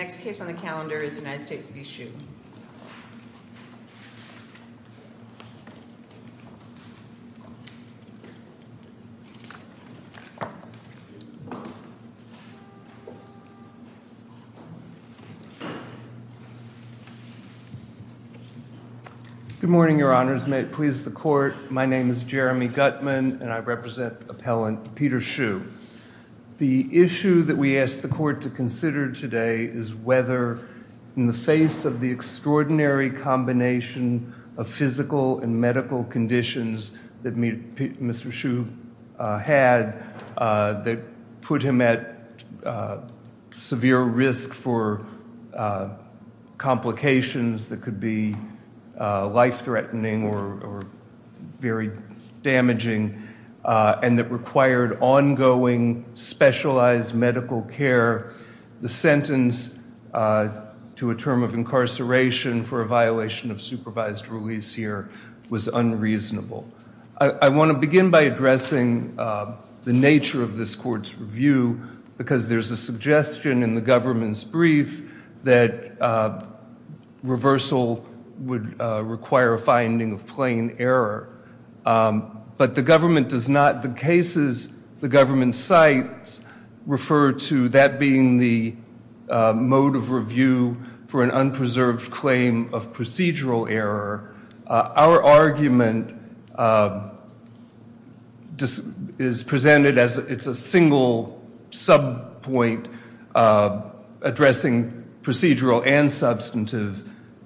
Good morning, Your Honors. May it please the Court, my name is Jeremy Gutman and I represent extraordinary combination of physical and medical conditions that Mr. Shue had that put him at severe risk for complications that could be life-threatening or very damaging and that required ongoing specialized medical care. The sentence to a term of incarceration for a violation of supervised release here was unreasonable. I want to begin by addressing the nature of this Court's review because there's a suggestion in the government's brief that reversal would require a finding of plain error. But the government does not, the cases the government cites refer to that being the mode of review for an unpreserved claim of procedural error. Our argument is presented as it's a single sub-point addressing procedural and substantive.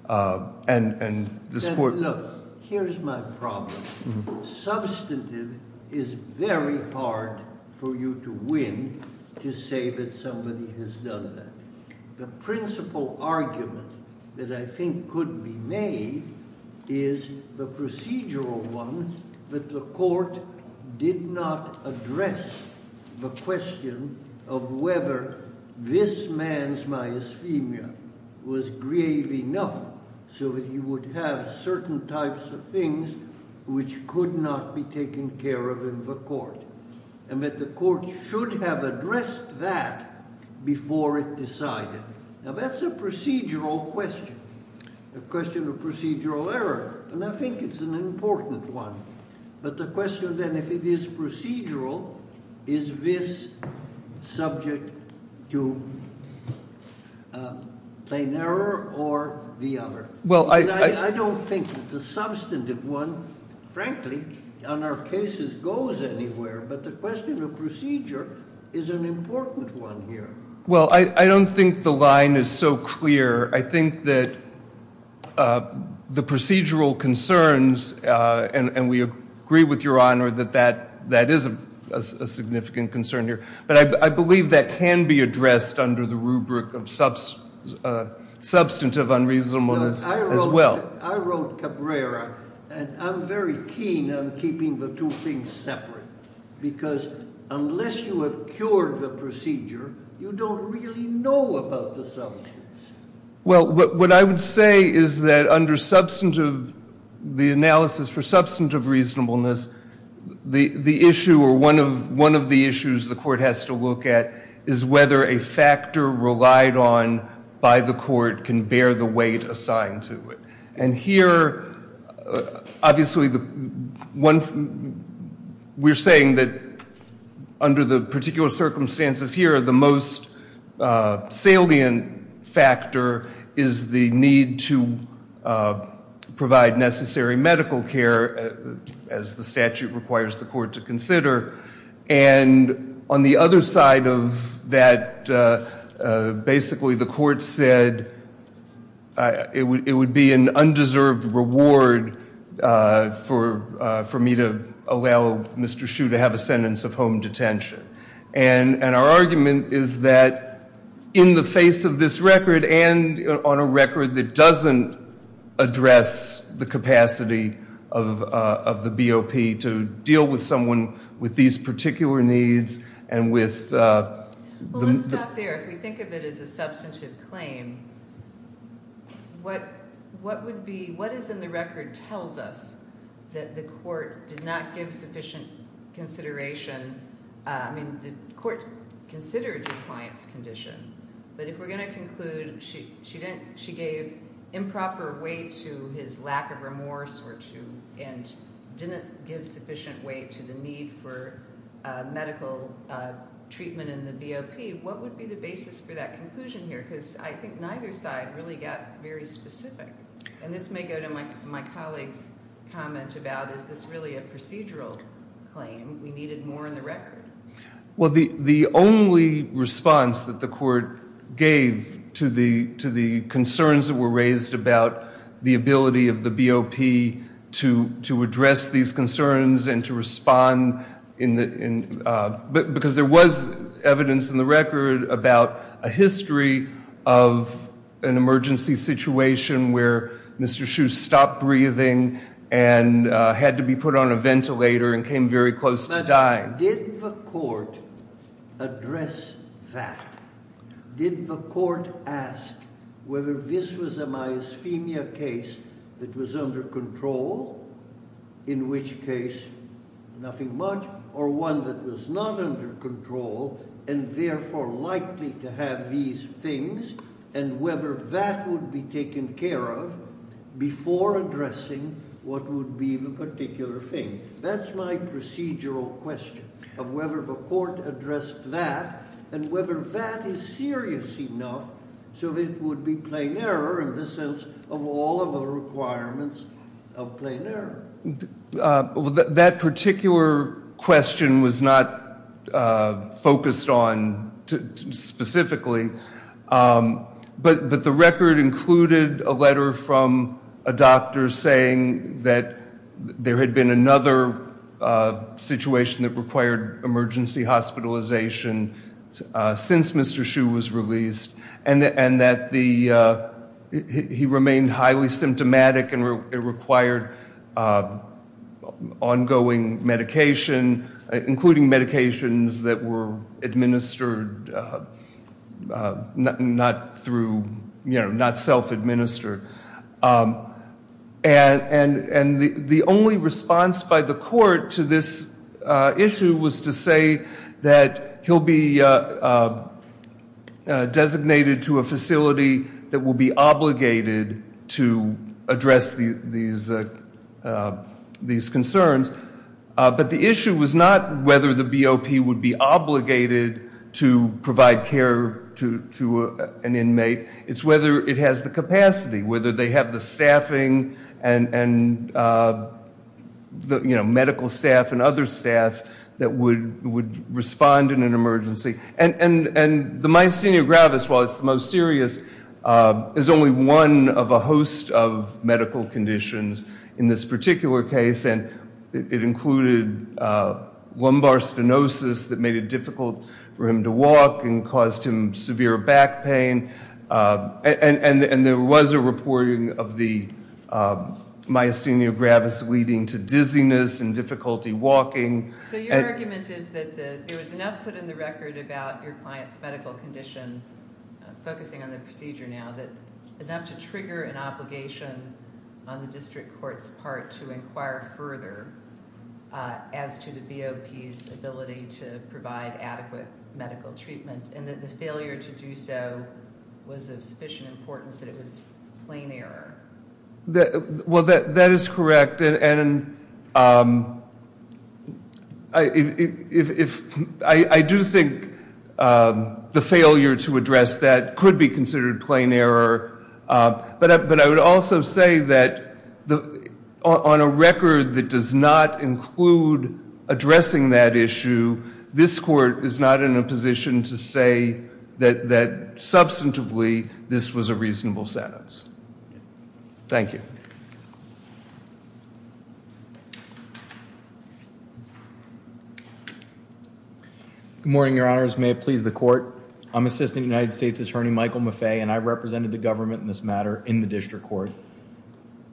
Look, here's my problem. Substantive is very hard for you to win to say that somebody has done that. The principal argument that I think could be made is the procedural one that the Court did not address the question of whether this man's myasthemia was grave enough so that he would have certain types of things which could not be taken care of in the Court. And that the Court should have addressed that before it decided. Now that's a procedural question. A question of procedural error. And I think it's an important one. But the question then, if it is procedural, is this subject to plain error or the other? I don't think the substantive one, frankly, on our cases goes anywhere. But the question of procedure is an important one here. Well, I don't think the line is so clear. I think that the procedural concerns, and we agree with Your Honor that that is a significant concern here. But I believe that can be addressed under the rubric of substantive unreasonableness as well. I wrote Cabrera, and I'm very keen on keeping the two things separate. Because unless you have cured the procedure, you don't really know about the substance. Well, what I would say is that under substantive, the analysis for substantive reasonableness, the issue or one of the issues the Court has to look at is whether a factor relied on by the Court can bear the weight assigned to it. And here, obviously, we're saying that under the particular circumstances here, the most salient factor is the need to provide necessary medical care, as the statute requires the Court to consider. And on the other side of that, basically, the Court said it would be an undeserved reward for me to allow Mr. Hsu to have a sentence of home detention. And our argument is that in the face of this record, and on a record that doesn't address the capacity of the BOP to deal with someone with these particular needs, and with- Well, let's stop there. If we think of it as a substantive claim, what is in the record tells us that the Court did not give sufficient consideration-I mean, the Court considered your client's condition. But if we're going to conclude she gave improper weight to his lack of remorse and didn't give sufficient weight to the need for medical treatment in the BOP, what would be the basis for that conclusion here? Because I think neither side really got very specific. And this may go to my colleague's comment about, is this really a procedural claim? We needed more in the record. Well, the only response that the Court gave to the concerns that were raised about the ability of the BOP to address these concerns and to respond-because there was evidence in the record about a history of an emergency situation where Mr. Hsu stopped breathing and had to be put on a ventilator and came very close to dying. But did the Court address that? Did the Court ask whether this was a myasthemia case that was under control, in which case nothing much, or one that was not under control and therefore likely to have these things, and whether that would be taken care of before addressing what would be the particular thing? That's my procedural question, of whether the Court addressed that and whether that is serious enough so that it would be plain error in the sense of all of the requirements of plain error. That particular question was not focused on specifically, but the record included a letter from a doctor saying that there had been another situation that required emergency hospitalization since Mr. Hsu was released, and that he remained highly symptomatic and required ongoing medication, including medications that were administered not self-administered. And the only response by the Court to this issue was to say that he'll be designated to a facility that will be obligated to address these concerns. But the issue was not whether the BOP would be obligated to provide care to an inmate. It's whether it has the capacity, whether they have the staffing and medical staff and other staff that would respond in an emergency. And the myasthenia gravis, while it's the most serious, is only one of a host of medical conditions in this particular case, and it included lumbar stenosis that made it difficult for him to walk and caused him severe back pain. And there was a reporting of the myasthenia gravis leading to dizziness and difficulty walking. So your argument is that there was enough put in the record about your client's medical condition, focusing on the procedure now, that enough to trigger an obligation on the district court's part to inquire further as to the BOP's ability to provide adequate medical treatment, and that the failure to do so was of sufficient importance that it was plain error? Well, that is correct, and I do think the failure to address that could be considered plain error. But I would also say that on a record that does not include addressing that issue, this court is not in a position to say that substantively this was a reasonable sentence. Thank you. Good morning, your honors. May it please the court. I'm Assistant United States Attorney Michael Maffei, and I represented the government in this matter in the district court.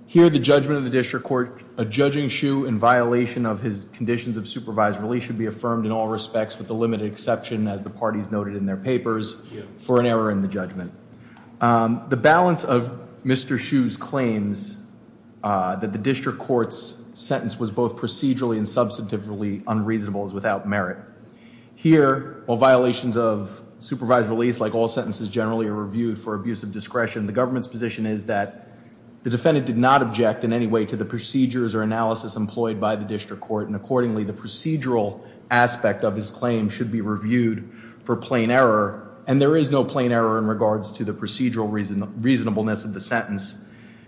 Here, the judgment of the district court, a judging shoe in violation of his conditions of supervised release should be affirmed in all respects with the limited exception, as the parties noted in their papers, for an error in the judgment. The balance of Mr. Shoe's claims that the district court's sentence was both procedurally and substantively unreasonable is without merit. Here, while violations of supervised release, like all sentences generally, are reviewed for abuse of discretion, the government's position is that the defendant did not object in any way to the procedures or analysis employed by the district court, and accordingly the procedural aspect of his claim should be reviewed for plain error. And there is no plain error in regards to the procedural reasonableness of the sentence,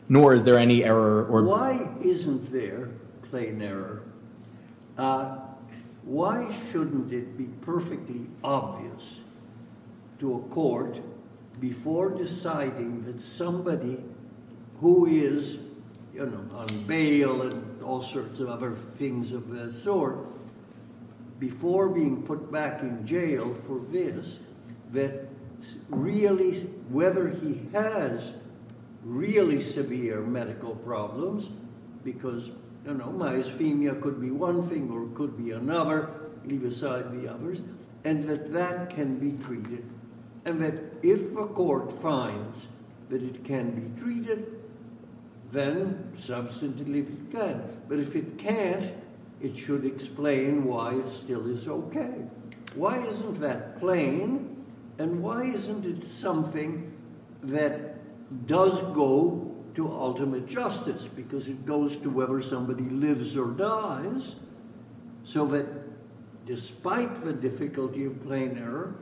nor is there any error. Why isn't there plain error? Why shouldn't it be perfectly obvious to a court, before deciding that somebody who is, you know, on bail and all sorts of other things of that sort, before being put back in jail for this, that really, whether he has really severe medical problems, because, you know, myasthenia could be one thing or it could be another, leave aside the others, and that that can be treated, and that if a court finds that it can be treated, then substantively it can. But if it can't, it should explain why it still is okay. Why isn't that plain, and why isn't it something that does go to ultimate justice, because it goes to whether somebody lives or dies, so that despite the difficulty of plain error,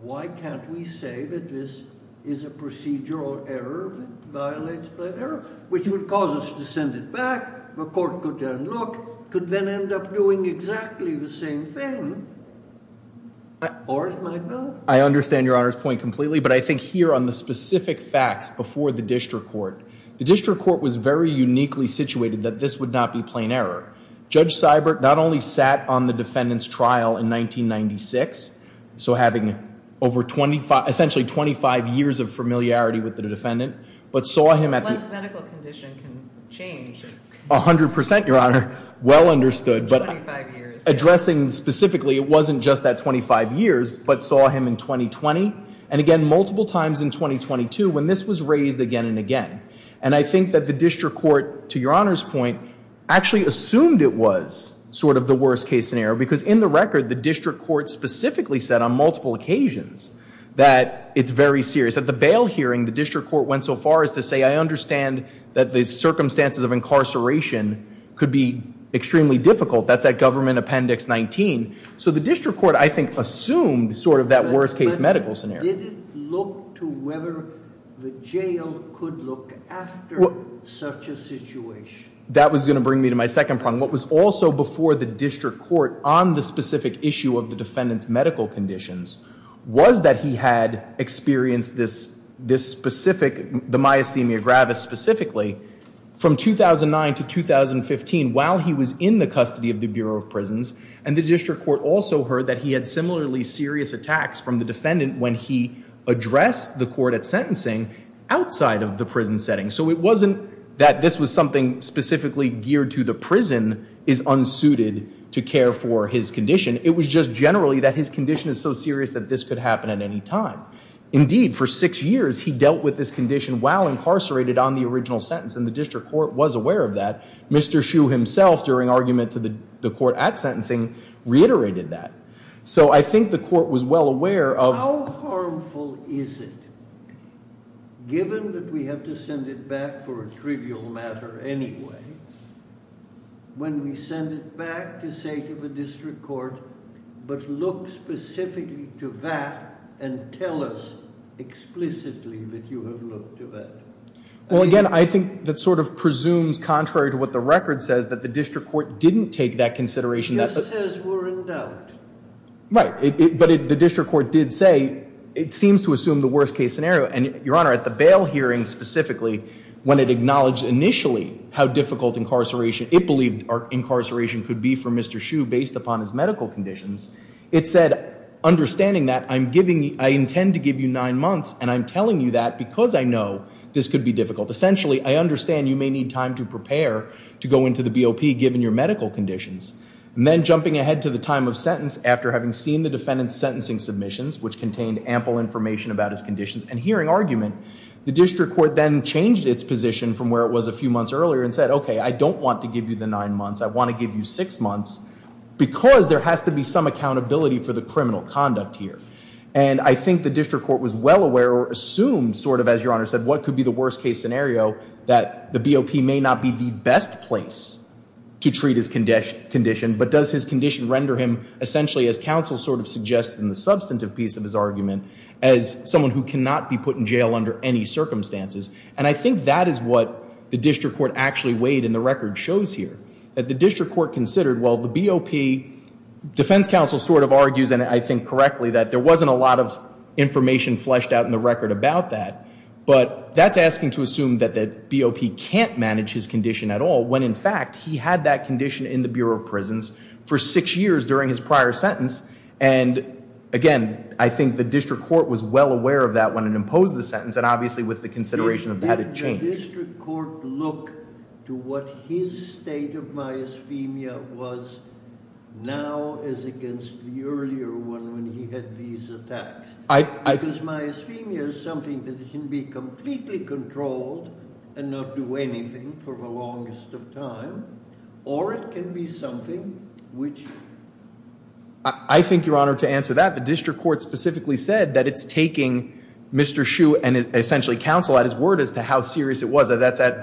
why can't we say that this is a procedural error that violates plain error, which would cause us to send it back, the court could then look, could then end up doing exactly the same thing, or it might not. I understand your Honor's point completely, but I think here on the specific facts before the district court, the district court was very uniquely situated that this would not be plain error. Judge Seibert not only sat on the defendant's trial in 1996, so having over 25, essentially 25 years of familiarity with the defendant, but saw him at the 100% your Honor, well understood, but addressing specifically, it wasn't just that 25 years, but saw him in 2020, and again, multiple times in 2022, when this was raised again and again. And I think that the district court, to your Honor's point, actually assumed it was sort of the worst case scenario, because in the record, the district court specifically said on multiple occasions that it's very serious. At the bail hearing, the district court went so far as to say, I understand that the circumstances of incarceration could be extremely difficult. That's at Government Appendix 19. So the district court, I think, assumed sort of that worst case medical scenario. Did it look to whether the jail could look after such a situation? That was going to bring me to my second point. And what was also before the district court on the specific issue of the defendant's medical conditions was that he had experienced this specific, the myasthenia gravis specifically, from 2009 to 2015, while he was in the custody of the Bureau of Prisons. And the district court also heard that he had similarly serious attacks from the defendant when he addressed the court at sentencing outside of the prison setting. So it wasn't that this was something specifically geared to the prison is unsuited to care for his condition. It was just generally that his condition is so serious that this could happen at any time. Indeed, for six years, he dealt with this condition while incarcerated on the original sentence. And the district court was aware of that. Mr. Hsu himself, during argument to the court at sentencing, reiterated that. So I think the court was well aware of— How harmful is it, given that we have to send it back for a trivial matter anyway, when we send it back to say to the district court, but look specifically to that and tell us explicitly that you have looked to that? Well, again, I think that sort of presumes, contrary to what the record says, that the district court didn't take that consideration. It just says we're in doubt. Right. But the district court did say it seems to assume the worst-case scenario. And, Your Honor, at the bail hearing specifically, when it acknowledged initially how difficult incarceration— it believed incarceration could be for Mr. Hsu based upon his medical conditions, it said, understanding that, I intend to give you nine months, and I'm telling you that because I know this could be difficult. Essentially, I understand you may need time to prepare to go into the BOP, given your medical conditions. And then jumping ahead to the time of sentence after having seen the defendant's sentencing submissions, which contained ample information about his conditions and hearing argument, the district court then changed its position from where it was a few months earlier and said, OK, I don't want to give you the nine months. I want to give you six months because there has to be some accountability for the criminal conduct here. And I think the district court was well aware or assumed, sort of as Your Honor said, what could be the worst-case scenario that the BOP may not be the best place to treat his condition, but does his condition render him essentially, as counsel sort of suggests in the substantive piece of his argument, as someone who cannot be put in jail under any circumstances. And I think that is what the district court actually weighed, and the record shows here, that the district court considered, well, the BOP, defense counsel sort of argues, and I think correctly, that there wasn't a lot of information fleshed out in the record about that. But that's asking to assume that the BOP can't manage his condition at all, when in fact he had that condition in the Bureau of Prisons for six years during his prior sentence. And again, I think the district court was well aware of that when it imposed the sentence, and obviously with the consideration of how to change. Did the district court look to what his state of myasthemia was now as against the earlier one when he had these attacks? Because myasthemia is something that can be completely controlled and not do anything for the longest of time, or it can be something which... I think, Your Honor, to answer that, the district court specifically said that it's taking Mr. Hsu and essentially counsel at his word as to how serious it was. That's at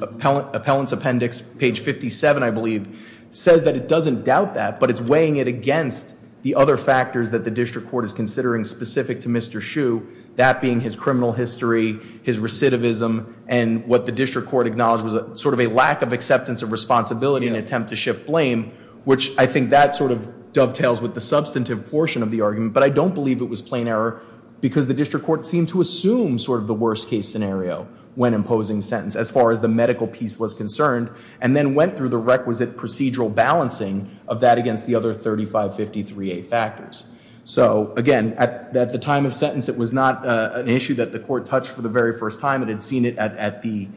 Appellant's Appendix, page 57, I believe, says that it doesn't doubt that, but it's weighing it against the other factors that the district court is considering specific to Mr. Hsu, that being his criminal history, his recidivism, and what the district court acknowledged was sort of a lack of acceptance of responsibility in an attempt to shift blame, which I think that sort of dovetails with the substantive portion of the argument. But I don't believe it was plain error because the district court seemed to assume sort of the worst-case scenario when imposing sentence as far as the medical piece was concerned, and then went through the requisite procedural balancing of that against the other 3553A factors. So, again, at the time of sentence, it was not an issue that the court touched for the very first time. It had seen it at the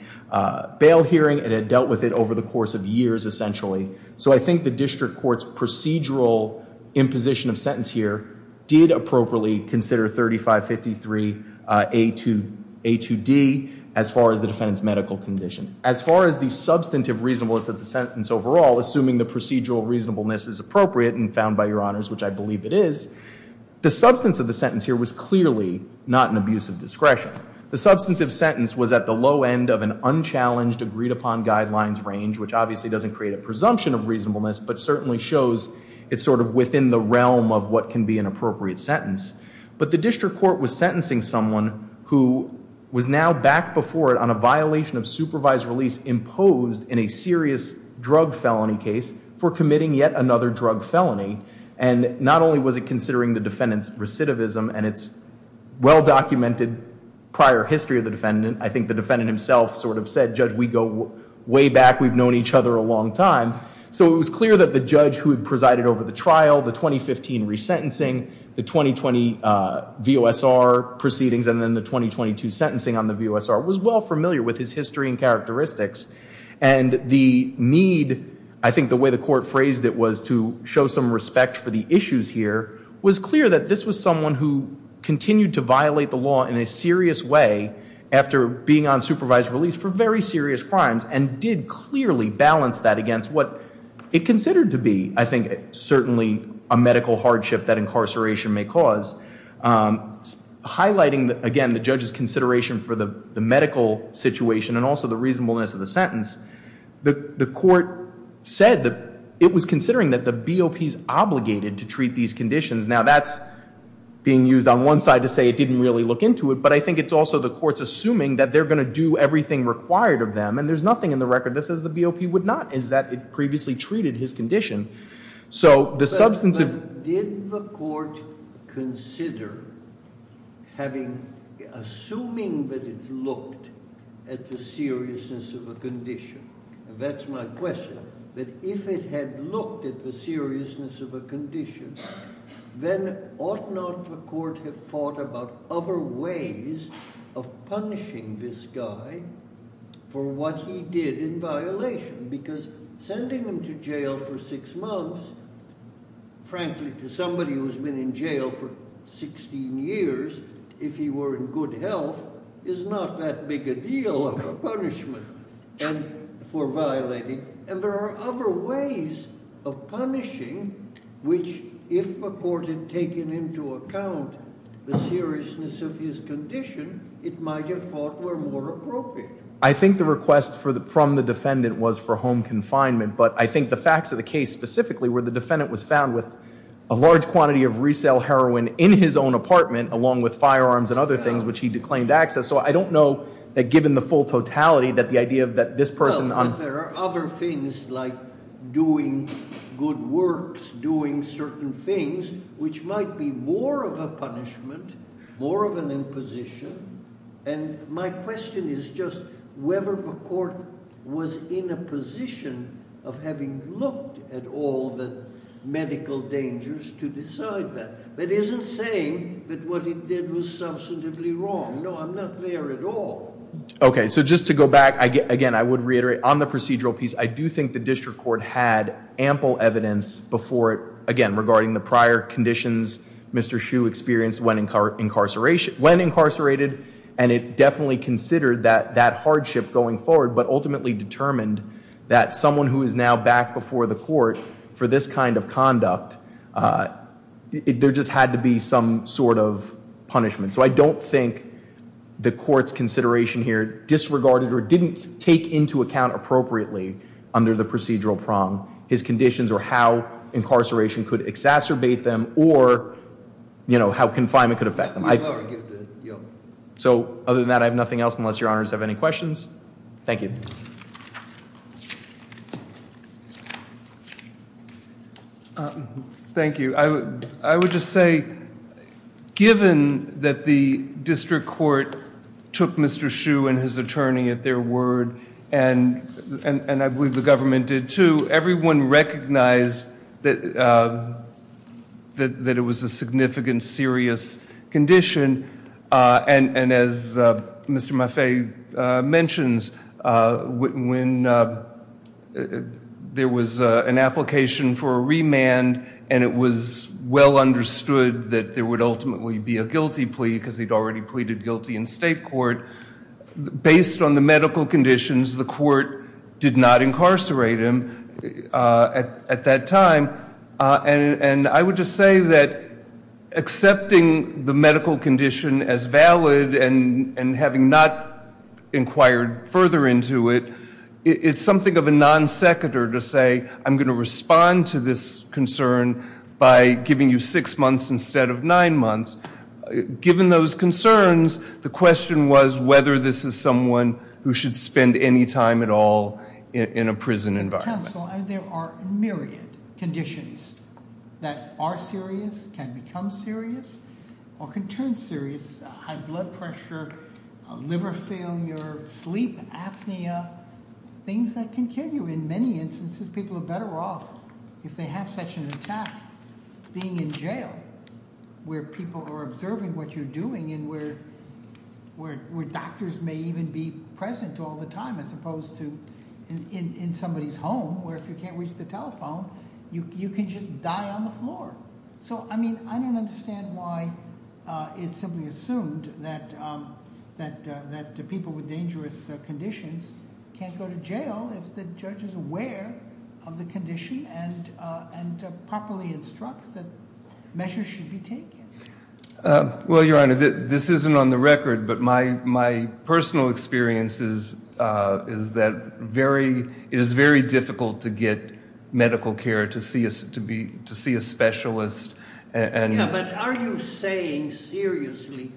bail hearing. It had dealt with it over the course of years, essentially. So I think the district court's procedural imposition of sentence here did appropriately consider 3553A to D as far as the defendant's medical condition. As far as the substantive reasonableness of the sentence overall, assuming the procedural reasonableness is appropriate and found by your honors, which I believe it is, the substance of the sentence here was clearly not an abuse of discretion. The substantive sentence was at the low end of an unchallenged, agreed-upon guidelines range, which obviously doesn't create a presumption of reasonableness, but certainly shows it's sort of within the realm of what can be an appropriate sentence. But the district court was sentencing someone who was now back before it on a violation of supervised release imposed in a serious drug felony case for committing yet another drug felony. And not only was it considering the defendant's recidivism and its well-documented prior history of the defendant, I think the defendant himself sort of said, Judge, we go way back. We've known each other a long time. So it was clear that the judge who had presided over the trial, the 2015 resentencing, the 2020 VOSR proceedings, and then the 2022 sentencing on the VOSR was well familiar with his history and characteristics. And the need, I think the way the court phrased it was to show some respect for the issues here, was clear that this was someone who continued to violate the law in a serious way after being on supervised release for very serious crimes and did clearly balance that against what it considered to be, I think, certainly a medical hardship that incarceration may cause. Highlighting, again, the judge's consideration for the medical situation and also the reasonableness of the sentence, the court said that it was considering that the BOP is obligated to treat these conditions. Now that's being used on one side to say it didn't really look into it, but I think it's also the court's assuming that they're going to do everything required of them and there's nothing in the record that says the BOP would not, is that it previously treated his condition. So the substance of- But did the court consider assuming that it looked at the seriousness of a condition? That's my question, that if it had looked at the seriousness of a condition, then ought not the court have thought about other ways of punishing this guy for what he did in violation? Because sending him to jail for six months, frankly to somebody who's been in jail for 16 years, if he were in good health, is not that big a deal of a punishment for violating. And there are other ways of punishing which, if the court had taken into account the seriousness of his condition, it might have thought were more appropriate. I think the request from the defendant was for home confinement, but I think the facts of the case specifically were the defendant was found with a large quantity of resale heroin in his own apartment, along with firearms and other things which he declaimed access. So I don't know that given the full totality that the idea that this person- Well, but there are other things like doing good works, doing certain things, which might be more of a punishment, more of an imposition. And my question is just whether the court was in a position of having looked at all the medical dangers to decide that. That isn't saying that what it did was substantively wrong. No, I'm not there at all. Okay, so just to go back, again, I would reiterate on the procedural piece, I do think the district court had ample evidence before it, again, regarding the prior conditions Mr. Shue experienced when incarcerated, and it definitely considered that hardship going forward, but ultimately determined that someone who is now back before the court for this kind of conduct, there just had to be some sort of punishment. So I don't think the court's consideration here disregarded or didn't take into account appropriately under the procedural prong his conditions or how incarceration could exacerbate them or how confinement could affect them. So other than that, I have nothing else unless Your Honors have any questions. Thank you. Thank you. I would just say given that the district court took Mr. Shue and his attorney at their word, and I believe the government did too, everyone recognized that it was a significant serious condition, and as Mr. Maffei mentions, when there was an application for a remand and it was well understood that there would ultimately be a guilty plea because he'd already pleaded guilty in state court, based on the medical conditions the court did not incarcerate him at that time, and I would just say that accepting the medical condition as valid and having not inquired further into it, it's something of a non-seconder to say, I'm going to respond to this concern by giving you six months instead of nine months. Given those concerns, the question was whether this is someone who should spend any time at all in a prison environment. Counsel, there are myriad conditions that are serious, can become serious, or can turn serious, high blood pressure, liver failure, sleep apnea, things that can kill you. In many instances, people are better off if they have such an attack. Being in jail, where people are observing what you're doing and where doctors may even be present all the time as opposed to in somebody's home where if you can't reach the telephone, you can just die on the floor. So, I mean, I don't understand why it's simply assumed that people with dangerous conditions can't go to jail if the judge is aware of the condition and properly instructs that measures should be taken. Well, Your Honor, this isn't on the record, but my personal experience is that it is very difficult to get medical care, to see a specialist. Yeah, but are you saying seriously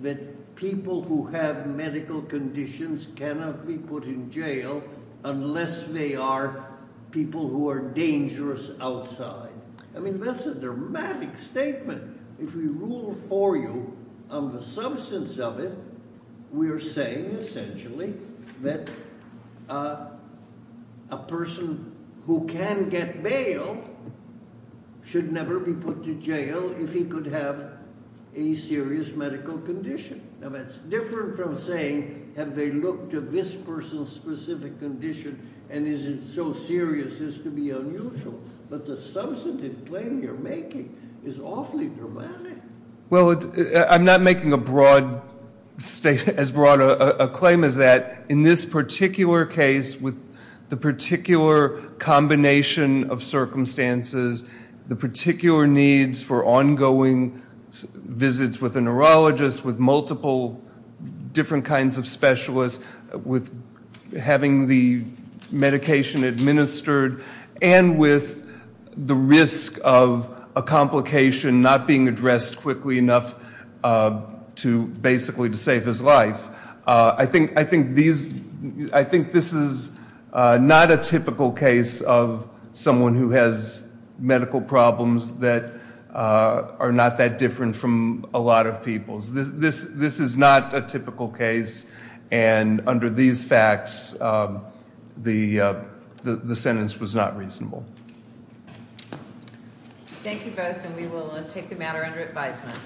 that people who have medical conditions cannot be put in jail unless they are people who are dangerous outside? I mean, that's a dramatic statement. If we rule for you on the substance of it, we are saying essentially that a person who can get bail should never be put to jail if he could have a serious medical condition. Now, that's different from saying, have they looked at this person's specific condition and is it so serious as to be unusual? But the substantive claim you're making is awfully dramatic. Well, I'm not making as broad a claim as that. In this particular case, with the particular combination of circumstances, the particular needs for ongoing visits with a neurologist, with multiple different kinds of specialists, with having the medication administered, and with the risk of a complication not being addressed quickly enough basically to save his life, I think this is not a typical case of someone who has medical problems that are not that different from a lot of people's. This is not a typical case, and under these facts, the sentence was not reasonable. Thank you both, and we will take the matter under advisement.